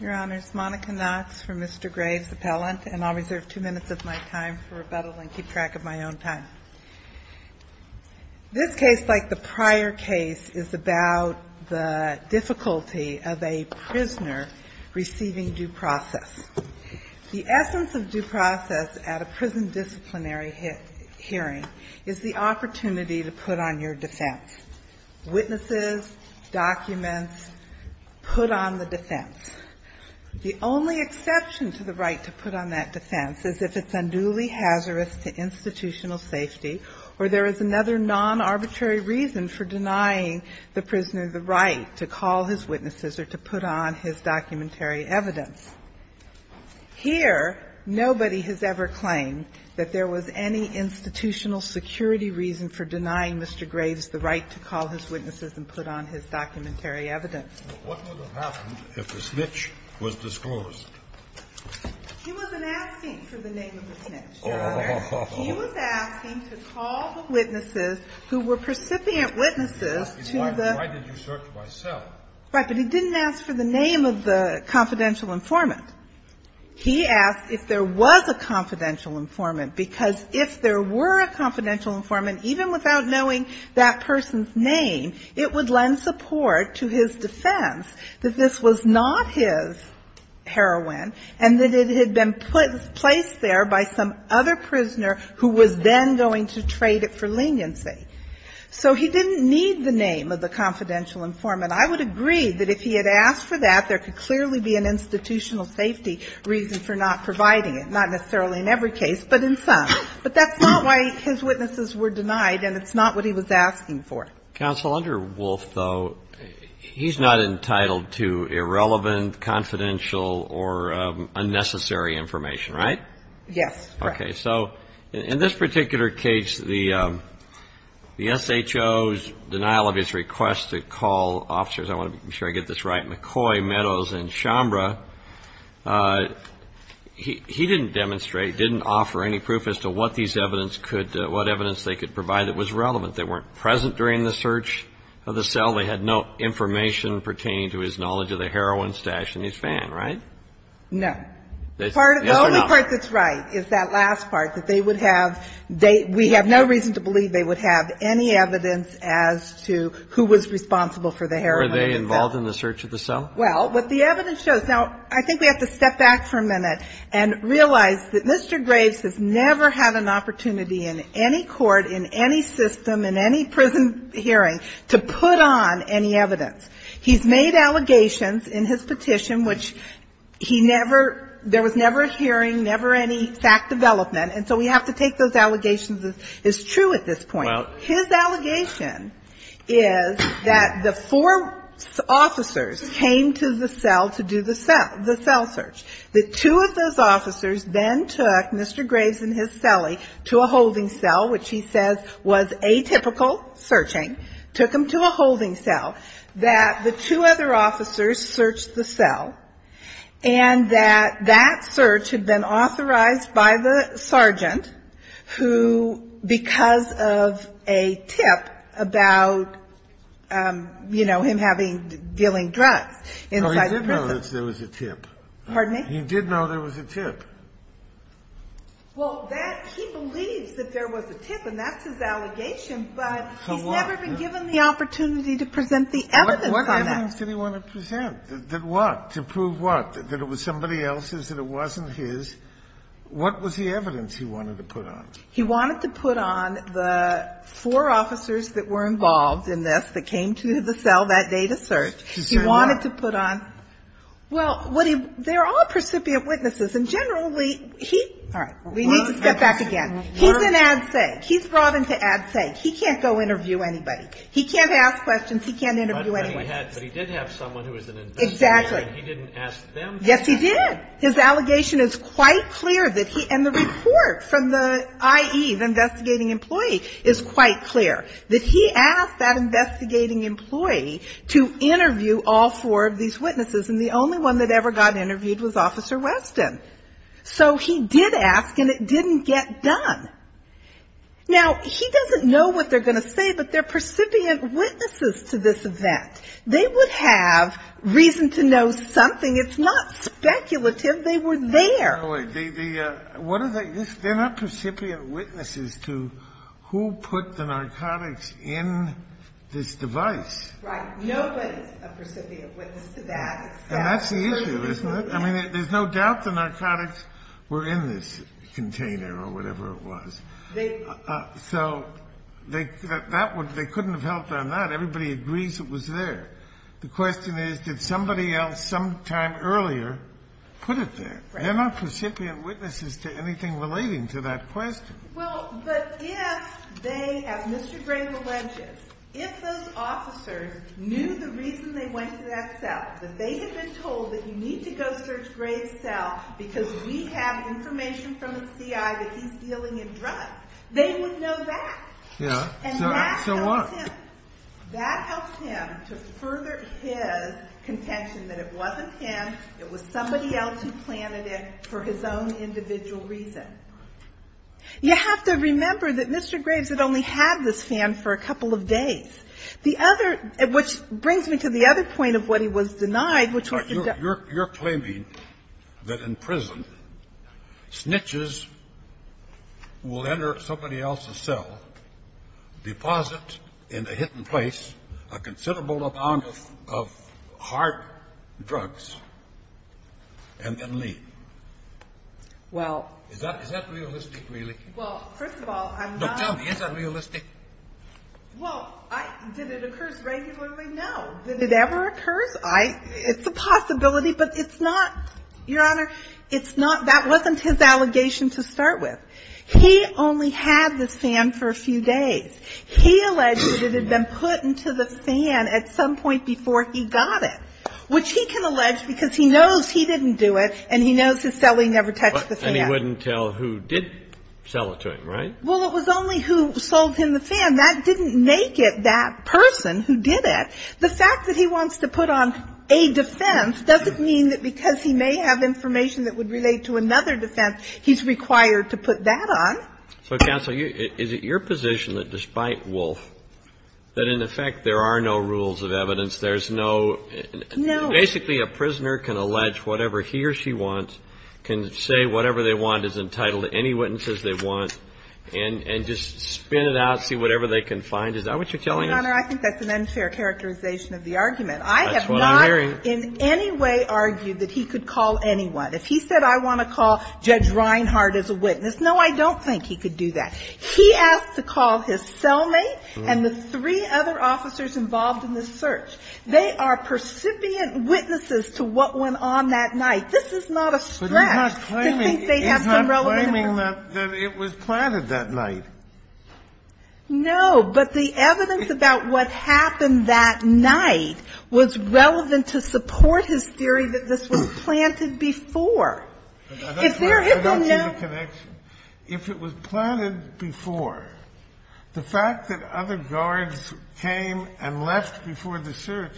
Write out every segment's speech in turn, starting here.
Your Honors, Monica Knox for Mr. Graves Appellant, and I'll reserve two minutes of my time for rebuttal and keep track of my own time. This case, like the prior case, is about the difficulty of a prisoner receiving due process. The essence of due process at a prison disciplinary hearing is the opportunity to put on your documents, put on the defense. The only exception to the right to put on that defense is if it's unduly hazardous to institutional safety or there is another non-arbitrary reason for denying the prisoner the right to call his witnesses or to put on his documentary evidence. Here, nobody has ever claimed that there was any institutional security reason for denying Mr. Graves the right to call his witnesses and put on his documentary evidence. Scalia, what would have happened if the snitch was disclosed? He wasn't asking for the name of the snitch. He was asking to call the witnesses who were recipient witnesses to the Why did you search my cell? Right, but he didn't ask for the name of the confidential informant. He asked if there was a confidential informant, because if there were a confidential informant, even without knowing that person's name, it would lend support to his defense that this was not his heroin and that it had been placed there by some other prisoner who was then going to trade it for leniency. So he didn't need the name of the confidential informant. I would agree that if he had asked for that, there could clearly be an institutional safety reason for not providing it, not necessarily in every case, but in some. But that's not why his witnesses were denied, and it's not what he was asking for. Counsel, under Wolf, though, he's not entitled to irrelevant, confidential or unnecessary information, right? Yes. Okay. So in this particular case, the SHO's denial of his request to call officers I want to make sure I get this right, McCoy, Meadows, and Chambra, he didn't demonstrate, he didn't offer any proof as to what these evidence could, what evidence they could provide that was relevant. They weren't present during the search of the cell. They had no information pertaining to his knowledge of the heroin stash in his van, right? No. Yes or no? The only part that's right is that last part, that they would have, they, we have no reason to believe they would have any evidence as to who was responsible for the heroin in the van. Were they involved in the search of the cell? Well, what the evidence shows. Now, I think we have to step back for a minute and realize that Mr. Graves has never had an opportunity in any court, in any system, in any prison hearing to put on any evidence. He's made allegations in his petition which he never, there was never a hearing, never any fact development, and so we have to take those allegations as true at this point. His allegation is that the four officers came to the cell to do the cell, the cell search. The two of those officers then took Mr. Graves and his cellie to a holding cell, which he says was atypical searching, took them to a holding cell. That the two other officers searched the cell, and that that search had been authorized by the sergeant who, because of a tip about, you know, him having, dealing drugs inside the prison. No, he did know that there was a tip. Pardon me? He did know there was a tip. Well, that, he believes that there was a tip, and that's his allegation, but he's never been given the opportunity to present the evidence on that. What evidence did he want to present? That what? To prove what? That it was somebody else's, that it wasn't his. What was the evidence he wanted to put on? He wanted to put on the four officers that were involved in this, that came to the cell that day to search. He wanted to put on. Well, what he, they're all precipitant witnesses, and generally, he, all right. We need to step back again. He's an ad sac. He's brought into ad sac. He can't go interview anybody. He can't ask questions. He can't interview anyone. But he did have someone who was an investigator. Exactly. And he didn't ask them to. Yes, he did. His allegation is quite clear that he, and the report from the IE, the investigating employee, is quite clear, that he asked that investigating employee to interview all four of these witnesses, and the only one that ever got interviewed was Officer Weston. So he did ask, and it didn't get done. Now, he doesn't know what they're going to say, but they're precipitant witnesses to this event. They would have reason to know something. It's not speculative. They were there. No, wait. They, what are they, they're not precipitant witnesses to who put the narcotics in this device. Right. Nobody's a precipitant witness to that. And that's the issue, isn't it? I mean, there's no doubt the narcotics were in this container, or whatever it was. So they, that would, they couldn't have helped on that. Everybody agrees it was there. The question is, did somebody else, sometime earlier, put it there? They're not precipitant witnesses to anything relating to that question. Well, but if they, as Mr. Grave alleges, if those officers knew the reason they went to that cell, that they had been told that you need to go search Grave's cell because we have information from the CI that he's dealing in drugs, they would know that. Yeah. And that tells him. That helps him to further his contention that it wasn't him, it was somebody else who planted it for his own individual reason. You have to remember that Mr. Graves had only had this fan for a couple of days. The other, which brings me to the other point of what he was denied, which was the debt. You're claiming that in prison, snitches will enter somebody else's cell, deposit in a hidden place a considerable amount of hard drugs, and then leave. Well. Is that realistic, really? Well, first of all, I'm not. Tell me, is that realistic? Well, did it occur regularly? No. Did it ever occur? It's a possibility, but it's not, Your Honor, it's not. That wasn't his allegation to start with. He only had this fan for a few days. He alleged that it had been put into the fan at some point before he got it, which he can allege because he knows he didn't do it, and he knows his cellie never touched the fan. And he wouldn't tell who did sell it to him, right? Well, it was only who sold him the fan. That didn't make it that person who did it. The fact that he wants to put on a defense doesn't mean that because he may have information that would relate to another defense, he's required to put that on. So, counsel, is it your position that despite Wolf, that in effect there are no rules of evidence, there's no, basically a prisoner can allege whatever he or she wants, can say whatever they want, is entitled to any witnesses they want, and just spin it out, see whatever they can find? Is that what you're telling us? Your Honor, I think that's an unfair characterization of the argument. I have not in any way argued that he could call anyone. If he said, I want to call Judge Reinhardt as a witness, no, I don't think he could do that. He asked to call his cellmate and the three other officers involved in the search. They are percipient witnesses to what went on that night. This is not a stretch to think they have some relevant information. But he's not claiming that it was planted that night. No, but the evidence about what happened that night was relevant to support his theory that this was planted before. I don't see the connection. If it was planted before, the fact that other guards came and left before the search,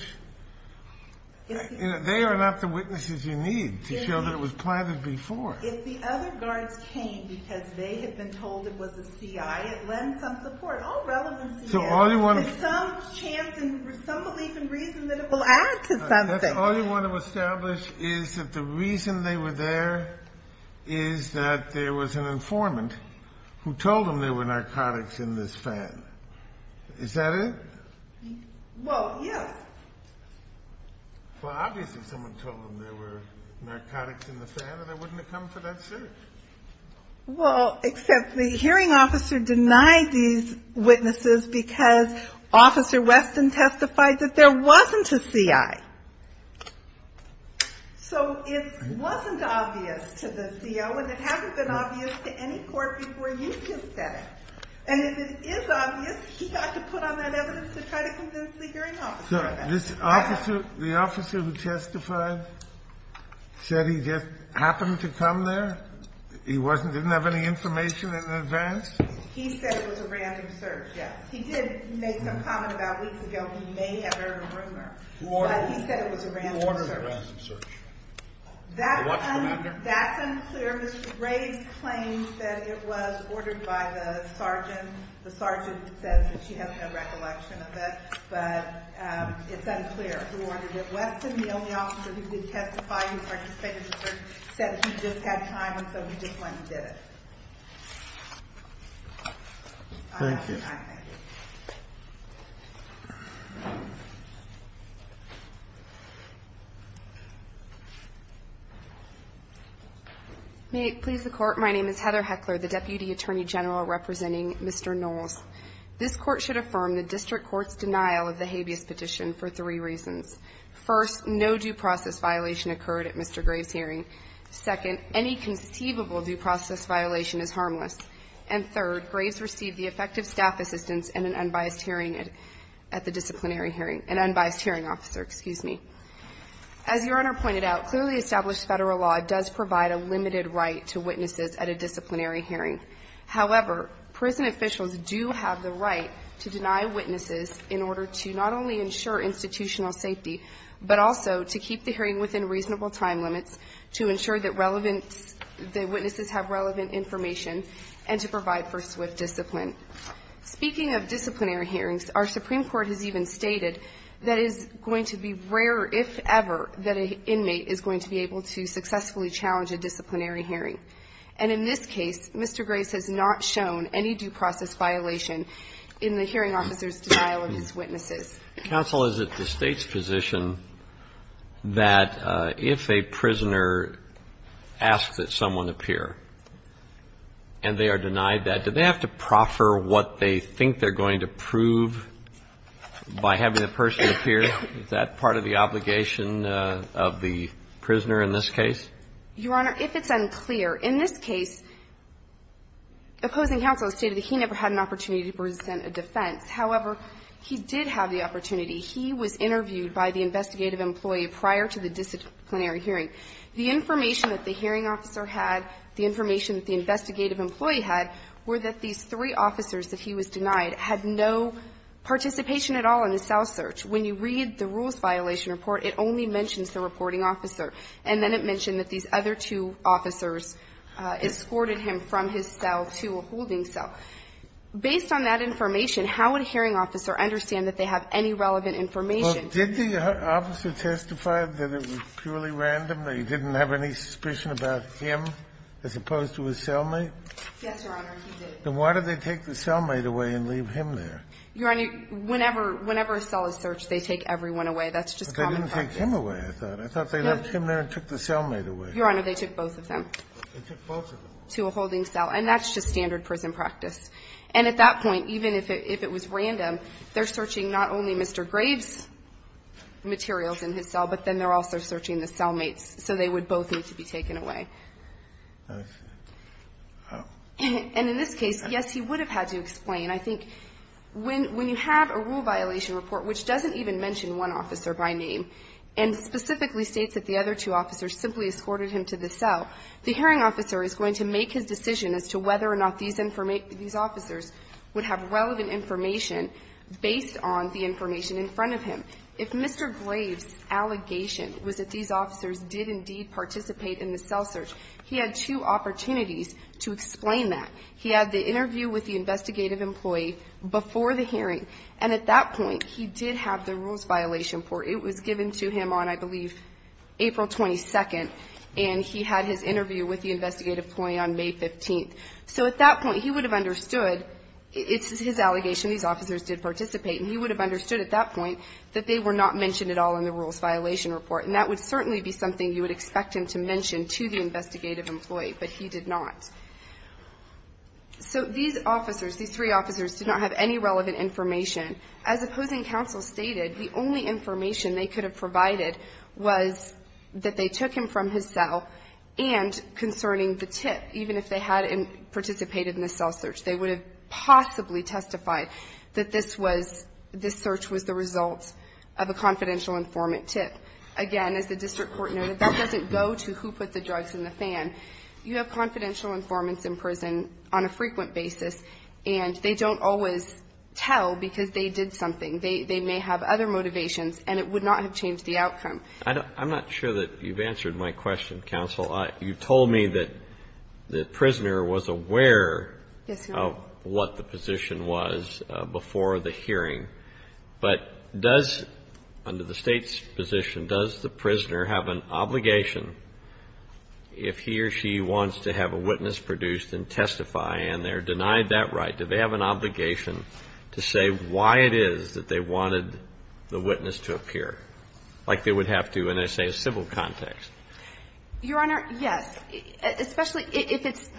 they are not the witnesses you need to show that it was planted before. If the other guards came because they had been told it was a CI, it lends some support, all relevancy is. So all you want to- There's some chance and some belief and reason that it will add to something. That's all you want to establish is that the reason they were there is that there was an informant who told them there were narcotics in this fan. Is that it? Well, yes. Well, obviously someone told them there were narcotics in the fan and they wouldn't have come for that search. Well, except the hearing officer denied these witnesses because Officer Weston testified that there wasn't a CI. So it wasn't obvious to the CO and it hasn't been obvious to any court before you just said it. And if it is obvious, he got to put on that evidence to try to convince the hearing officer. The officer who testified said he just happened to come there? He didn't have any information in advance? He said it was a random search, yes. He did make some comment about weeks ago he may have heard a rumor. He said it was a random search. That's unclear. Mr. Ray claims that it was ordered by the sergeant. The sergeant says that she has no recollection of it. But it's unclear who ordered it. Weston, the only officer who did testify, who participated in the search, said he just had time and so he just went and did it. Thank you. I thank you. May it please the court, my name is Heather Heckler, the Deputy Attorney General representing Mr. Knowles. This court should affirm the district court's denial of the habeas petition for three reasons. First, no due process violation occurred at Mr. Graves' hearing. Second, any conceivable due process violation is harmless. And third, Graves received the effective staff assistance in an unbiased hearing at the disciplinary hearing. An unbiased hearing. As your Honor pointed out, clearly established federal law does provide a limited right to witnesses at a disciplinary hearing. However, prison officials do have the right to deny witnesses in order to not only ensure institutional safety, but also to keep the hearing within reasonable time limits, to ensure that relevant witnesses have relevant information, and to provide for swift discipline. Speaking of disciplinary hearings, our Supreme Court has even stated that it is going to be rarer, if ever, that an inmate is going to be able to successfully challenge a disciplinary hearing. And in this case, Mr. Graves has not shown any due process violation in the hearing officer's denial of his witnesses. Counsel, is it the State's position that if a prisoner asks that someone appear and they are denied that, do they have to proffer what they think they're going to Is that part of the obligation of the prisoner in this case? Your Honor, if it's unclear, in this case, opposing counsel stated that he never had an opportunity to present a defense. However, he did have the opportunity. He was interviewed by the investigative employee prior to the disciplinary hearing. The information that the hearing officer had, the information that the investigative employee had, were that these three officers that he was denied had no participation at all in the cell search. When you read the rules violation report, it only mentions the reporting officer. And then it mentioned that these other two officers escorted him from his cell to a holding cell. Based on that information, how would a hearing officer understand that they have any relevant information? Well, did the officer testify that it was purely random, that he didn't have any suspicion about him as opposed to his cellmate? Yes, Your Honor, he did. Then why did they take the cellmate away and leave him there? Your Honor, whenever a cell is searched, they take everyone away. That's just common practice. But they didn't take him away, I thought. I thought they left him there and took the cellmate away. Your Honor, they took both of them. They took both of them. To a holding cell. And that's just standard prison practice. And at that point, even if it was random, they're searching not only Mr. Graves' materials in his cell, but then they're also searching the cellmate's. So they would both need to be taken away. I see. And in this case, yes, he would have had to explain. And I think when you have a rule violation report which doesn't even mention one officer by name and specifically states that the other two officers simply escorted him to the cell, the hearing officer is going to make his decision as to whether or not these officers would have relevant information based on the information in front of him. If Mr. Graves' allegation was that these officers did indeed participate in the cell search, he had two opportunities to explain that. He had the interview with the investigative employee before the hearing. And at that point, he did have the rules violation report. It was given to him on, I believe, April 22nd. And he had his interview with the investigative employee on May 15th. So at that point, he would have understood it's his allegation these officers did participate. And he would have understood at that point that they were not mentioned at all in the rules violation report. And that would certainly be something you would expect him to mention to the investigative employee. But he did not. So these officers, these three officers, did not have any relevant information. As opposing counsel stated, the only information they could have provided was that they took him from his cell and concerning the tip, even if they had participated in the cell search, they would have possibly testified that this search was the result of a confidential informant tip. Again, as the district court noted, that doesn't go to who put the drugs in the cell. You have confidential informants in prison on a frequent basis. And they don't always tell because they did something. They may have other motivations. And it would not have changed the outcome. I'm not sure that you've answered my question, counsel. You told me that the prisoner was aware of what the position was before the hearing. But does, under the state's position, does the prisoner have an obligation, if he or she wants to have a witness produced and testify and they're denied that right, do they have an obligation to say why it is that they wanted the witness to appear, like they would have to in, say, a civil context? Your Honor, yes. Especially if it's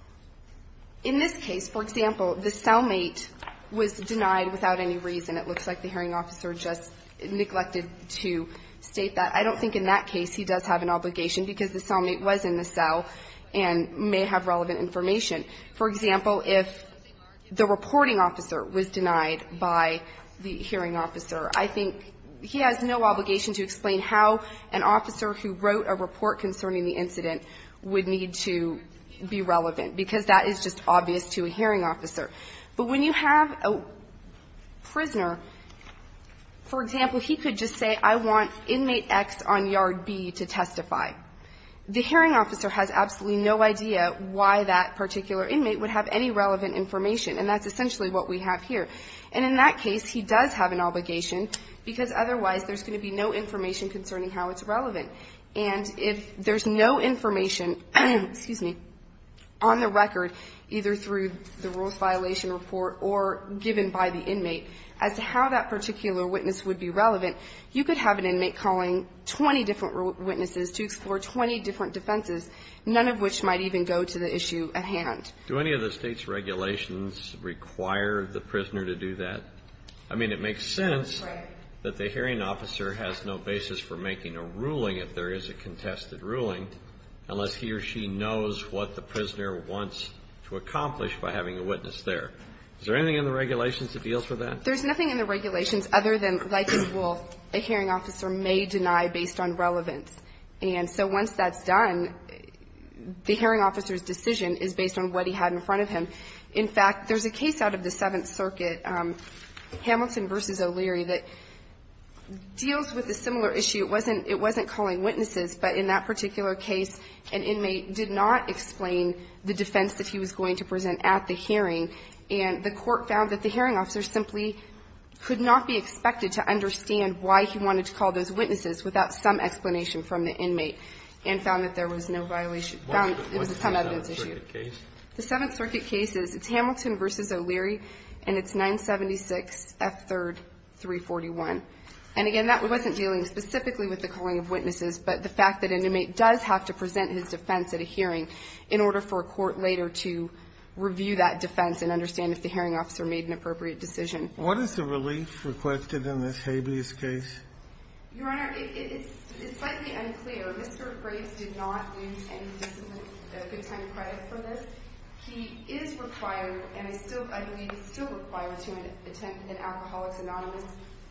– in this case, for example, the cellmate was denied without any reason. It looks like the hearing officer just neglected to state that. I don't think in that case he does have an obligation because the cellmate was in the cell and may have relevant information. For example, if the reporting officer was denied by the hearing officer, I think he has no obligation to explain how an officer who wrote a report concerning the incident would need to be relevant because that is just obvious to a hearing officer. But when you have a prisoner, for example, he could just say, I want inmate X on yard B to testify. The hearing officer has absolutely no idea why that particular inmate would have any relevant information, and that's essentially what we have here. And in that case, he does have an obligation because otherwise there's going to be no information concerning how it's relevant. And if there's no information, excuse me, on the record, either through the rules violation report or given by the inmate, as to how that particular witness would be relevant, you could have an inmate calling 20 different witnesses to explore 20 different defenses, none of which might even go to the issue at hand. Do any of the state's regulations require the prisoner to do that? I mean, it makes sense that the hearing officer has no basis for making a ruling if there is a contested ruling, unless he or she knows what the prisoner wants to accomplish by having a witness there. Is there anything in the regulations that deals with that? There's nothing in the regulations other than, like in Wolfe, a hearing officer may deny based on relevance. And so once that's done, the hearing officer's decision is based on what he had in front of him. In fact, there's a case out of the Seventh Circuit, Hamilton v. O'Leary, that deals with a similar issue. It wasn't calling witnesses, but in that particular case, an inmate did not explain the defense that he was going to present at the hearing. And the court found that the hearing officer simply could not be expected to understand why he wanted to call those witnesses without some explanation from the inmate and found that there was no violation. What's the Seventh Circuit case? The Seventh Circuit case is Hamilton v. O'Leary, and it's 976 F. 3rd, 341. And again, that wasn't dealing specifically with the calling of witnesses, but the fact that an inmate does have to present his defense at a hearing in order for a court later to review that defense and understand if the hearing officer made an appropriate decision. What is the relief requested in this habeas case? Your Honor, it's slightly unclear. Mr. Graves did not lose any discipline or good time credit for this. He is required, and I believe he's still required, to attend an alcoholics anonymous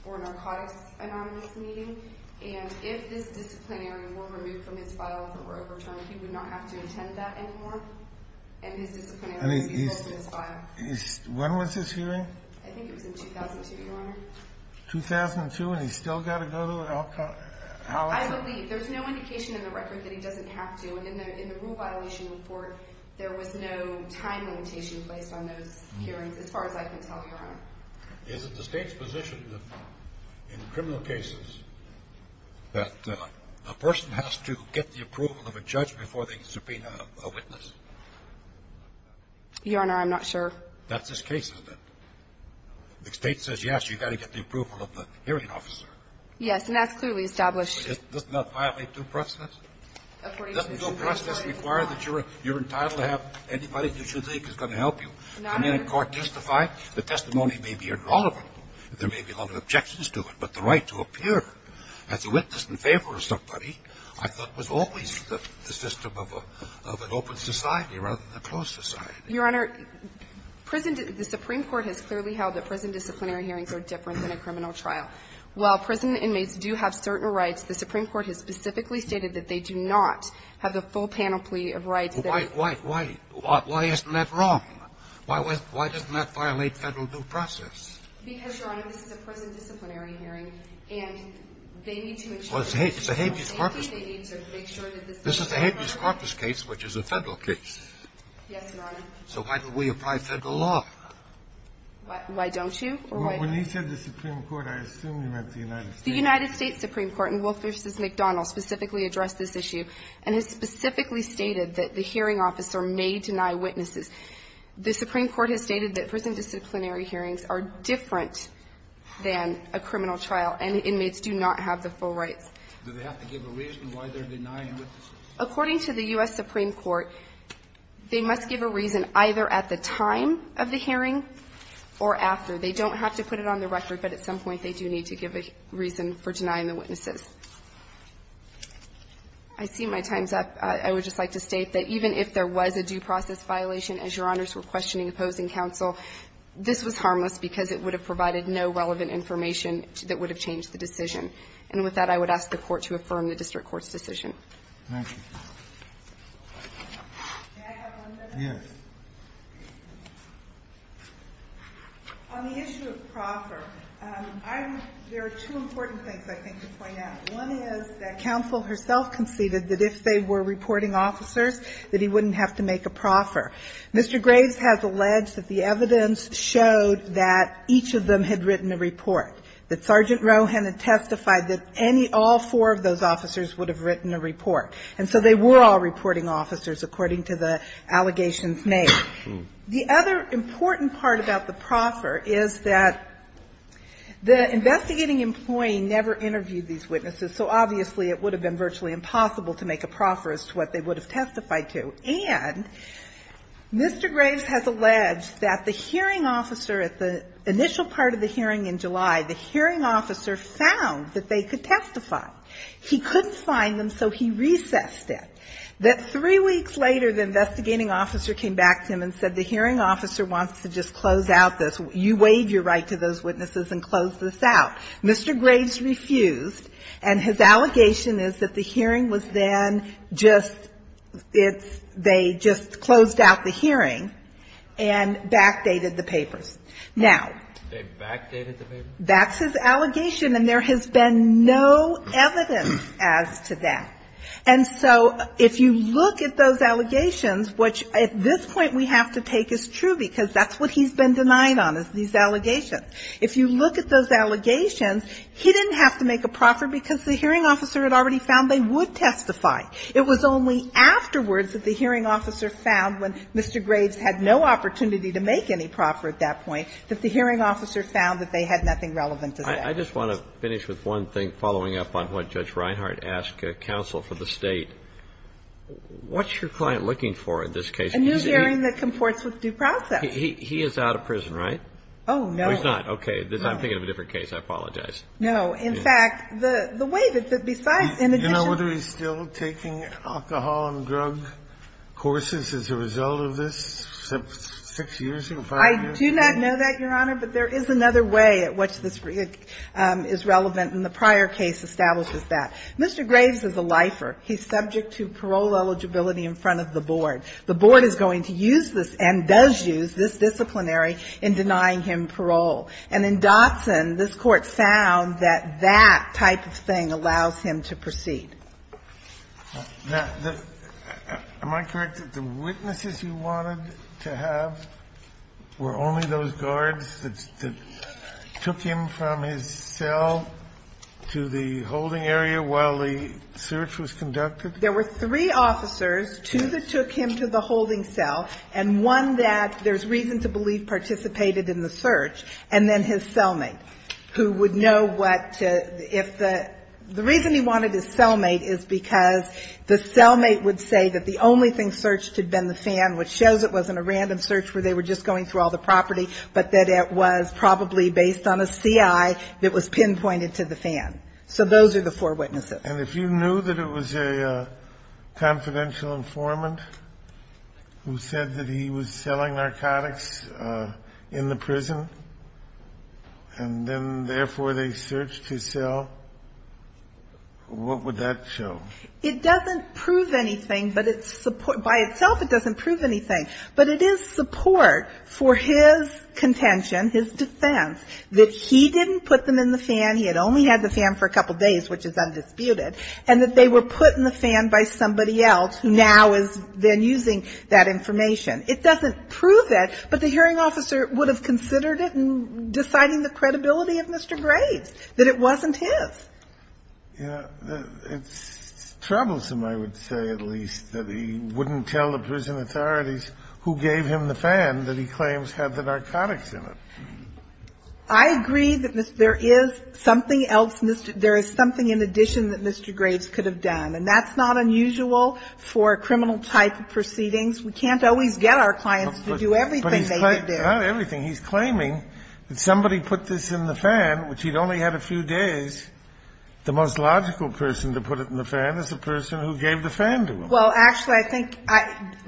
or narcotics anonymous meeting. And if this disciplinary were removed from his file or overturned, he would not have to attend that anymore. And his disciplinary would be removed from his file. When was this hearing? I think it was in 2002, Your Honor. 2002, and he's still got to go to alcoholics? I believe. There's no indication in the record that he doesn't have to. In the rule violation report, there was no time limitation placed on those hearings, as far as I can tell, Your Honor. Is it the State's position in criminal cases that a person has to get the approval of a judge before they can subpoena a witness? Your Honor, I'm not sure. That's his case, isn't it? The State says, yes, you've got to get the approval of the hearing officer. Yes, and that's clearly established. Doesn't that violate due process? According to the Supreme Court, it does not. Doesn't due process require that you're entitled to have anybody that you think is going to help you? No, Your Honor. Can any court testify? The testimony may be irrelevant. There may be a lot of objections to it, but the right to appear as a witness in favor of somebody I thought was always the system of an open society rather than a closed society. Your Honor, the Supreme Court has clearly held that prison disciplinary hearings are different than a criminal trial. While prison inmates do have certain rights, the Supreme Court has specifically stated that they do not have the full panoply of rights. Why isn't that wrong? Why doesn't that violate federal due process? Because, Your Honor, this is a prison disciplinary hearing, and they need to ensure This is a habeas corpus case, which is a federal case. Yes, Your Honor. So why don't we apply federal law? Why don't you? When he said the Supreme Court, I assumed he meant the United States. The United States Supreme Court in Wolfe v. McDonald specifically addressed this issue and has specifically stated that the hearing officer may deny witnesses. The Supreme Court has stated that prison disciplinary hearings are different than a criminal trial, and the inmates do not have the full rights. Do they have to give a reason why they're denying witnesses? According to the U.S. Supreme Court, they must give a reason either at the time of the hearing or after. They don't have to put it on the record, but at some point they do need to give a reason for denying the witnesses. I see my time's up. I would just like to state that even if there was a due process violation, as Your Honors were questioning opposing counsel, this was harmless because it would have provided no relevant information that would have changed the decision. And with that, I would ask the Court to affirm the district court's decision. Thank you. May I have one minute? Yes. On the issue of proffer, there are two important things I think to point out. One is that counsel herself conceded that if they were reporting officers, that he wouldn't have to make a proffer. Mr. Graves has alleged that the evidence showed that each of them had written a report, that Sergeant Rohan had testified that all four of those officers would have written a report. And so they were all reporting officers according to the allegations made. The other important part about the proffer is that the investigating employee never interviewed these witnesses, so obviously it would have been virtually impossible to make a proffer as to what they would have testified to. And Mr. Graves has alleged that the hearing officer at the initial part of the hearing in July, the hearing officer found that they could testify. He couldn't find them, so he recessed it. That three weeks later, the investigating officer came back to him and said, the hearing officer wants to just close out this. You waive your right to those witnesses and close this out. Mr. Graves refused, and his allegation is that the hearing was then just they just closed out the hearing and backdated the papers. Now, that's his allegation, and there has been no evidence as to that. And so if you look at those allegations, which at this point we have to take as true, because that's what he's been denied on, is these allegations. If you look at those allegations, he didn't have to make a proffer because the hearing officer had already found they would testify. It was only afterwards that the hearing officer found, when Mr. Graves had no opportunity to make any proffer at that point, that the hearing officer found that they had nothing relevant to that. I just want to finish with one thing, following up on what Judge Reinhardt asked counsel for the State. What's your client looking for in this case? A new hearing that comports with due process. He is out of prison, right? Oh, no. Oh, he's not. Okay. I'm thinking of a different case. I apologize. No. In fact, the way that besides in addition to Do you know whether he's still taking alcohol and drug courses as a result of this? Six years ago? I do not know that, Your Honor, but there is another way at which this is relevant and the prior case establishes that. Mr. Graves is a lifer. He's subject to parole eligibility in front of the board. The board is going to use this and does use this disciplinary in denying him parole. And in Dotson, this Court found that that type of thing allows him to proceed. Now, am I correct that the witnesses you wanted to have were only those guards that took him from his cell to the holding area while the search was conducted? There were three officers, two that took him to the holding cell and one that there's reason to believe participated in the search, and then his cellmate, who would know what to if the reason he wanted his cellmate is because the cellmate would say that the only thing searched had been the fan, which shows it wasn't a random search where they were just going through all the property, but that it was probably based on a CI that was pinpointed to the fan. So those are the four witnesses. And if you knew that it was a confidential informant who said that he was selling narcotics in the prison, and then therefore they searched his cell, what would that show? It doesn't prove anything, but by itself it doesn't prove anything. But it is support for his contention, his defense, that he didn't put them in the fan, he had only had the fan for a couple days, which is undisputed, and that they were put in the fan by somebody else who now is then using that information. It doesn't prove that, but the hearing officer would have considered it in deciding the credibility of Mr. Graves, that it wasn't his. It's troublesome, I would say at least, that he wouldn't tell the prison authorities who gave him the fan that he claims had the narcotics in it. I agree that there is something else, there is something in addition that Mr. Graves could have done, and that's not unusual for a criminal type of proceedings. We can't always get our clients to do everything they could do. Not everything. He's claiming that somebody put this in the fan, which he'd only had a few days. The most logical person to put it in the fan is the person who gave the fan to him. Well, actually, I think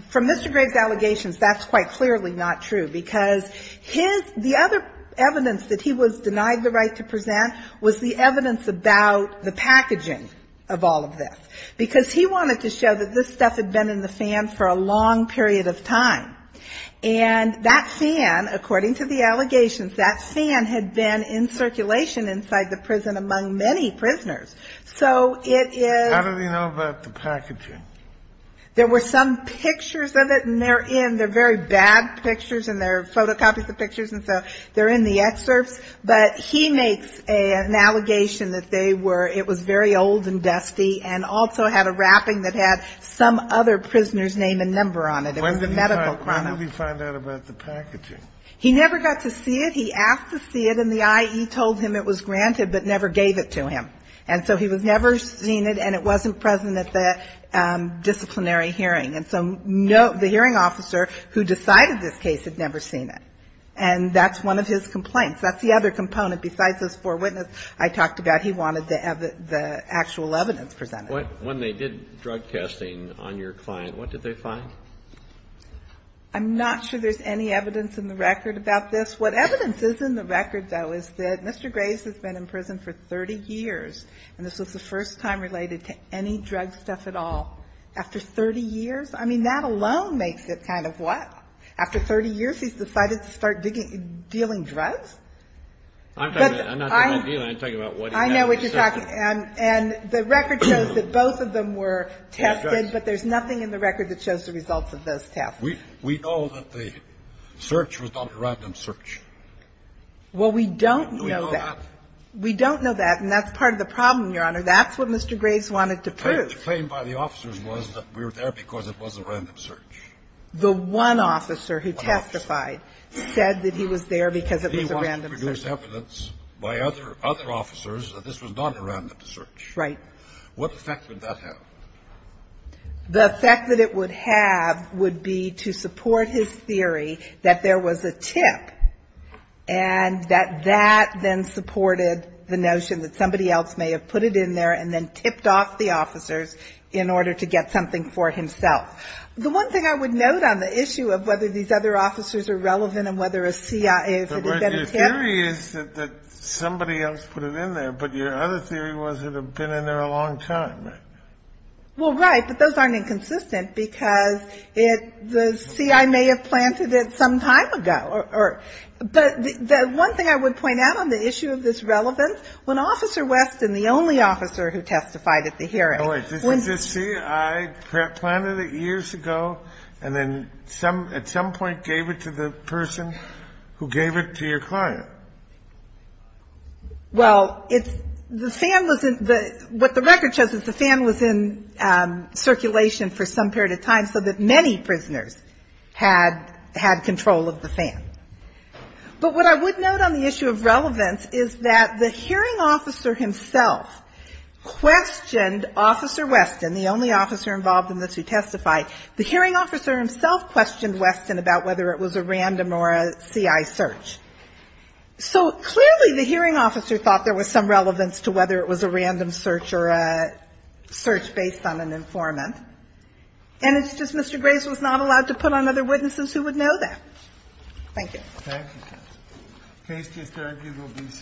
from Mr. Graves' allegations, that's quite clearly not true, because his the other evidence that he was denied the right to present was the evidence about the packaging of all of this, because he wanted to show that this stuff had been in the fan for a long period of time. And that fan, according to the allegations, that fan had been in circulation inside the prison among many prisoners. So it is... How do they know about the packaging? There were some pictures of it, and they're in, they're very bad pictures, and they're photocopies of pictures, and so they're in the excerpts. But he makes an allegation that they were, it was very old and dusty, and also had a wrapping that had some other prisoner's name and number on it. It was a medical chrono. When did he find out about the packaging? He never got to see it. He asked to see it, and the I.E. told him it was granted, but never gave it to him. And so he was never seen it, and it wasn't present at the disciplinary hearing. And so the hearing officer who decided this case had never seen it. And that's one of his complaints. That's the other component. Besides those four witnesses I talked about, he wanted the actual evidence presented. When they did drug testing on your client, what did they find? I'm not sure there's any evidence in the record about this. What evidence is in the record, though, is that Mr. Grace has been in prison for 30 years, and this was the first time related to any drug stuff at all. After 30 years? I mean, that alone makes it kind of what? After 30 years, he's decided to start dealing drugs? I'm not talking about dealing. I'm talking about what he had to say. I know what you're talking. And the record shows that both of them were tested, but there's nothing in the record that shows the results of those tests. We know that the search was not a random search. Well, we don't know that. We know that. We don't know that, and that's part of the problem, Your Honor. That's what Mr. Grace wanted to prove. The claim by the officers was that we were there because it was a random search. The one officer who testified said that he was there because it was a random search. There's evidence by other officers that this was not a random search. Right. What effect would that have? The effect that it would have would be to support his theory that there was a tip, and that that then supported the notion that somebody else may have put it in there and then tipped off the officers in order to get something for himself. The one thing I would note on the issue of whether these other officers are relevant and whether a CIA, if it had been a tip. Your theory is that somebody else put it in there, but your other theory was it had been in there a long time, right? Well, right, but those aren't inconsistent because the CIA may have planted it some time ago. But the one thing I would point out on the issue of this relevance, when Officer Westin, the only officer who testified at the hearing. See, I planted it years ago, and then at some point gave it to the person who gave it to your client. Well, what the record shows is the fan was in circulation for some period of time, so that many prisoners had control of the fan. But what I would note on the issue of relevance is that the hearing officer himself questioned Officer Westin, the only officer involved in this who testified. The hearing officer himself questioned Westin about whether it was a random or a CI search. So clearly the hearing officer thought there was some relevance to whether it was a random search or a search based on an informant. And it's just Mr. Grace was not allowed to put on other witnesses who would know that. Thank you. Thank you, Justice. The case just argued will be submitted.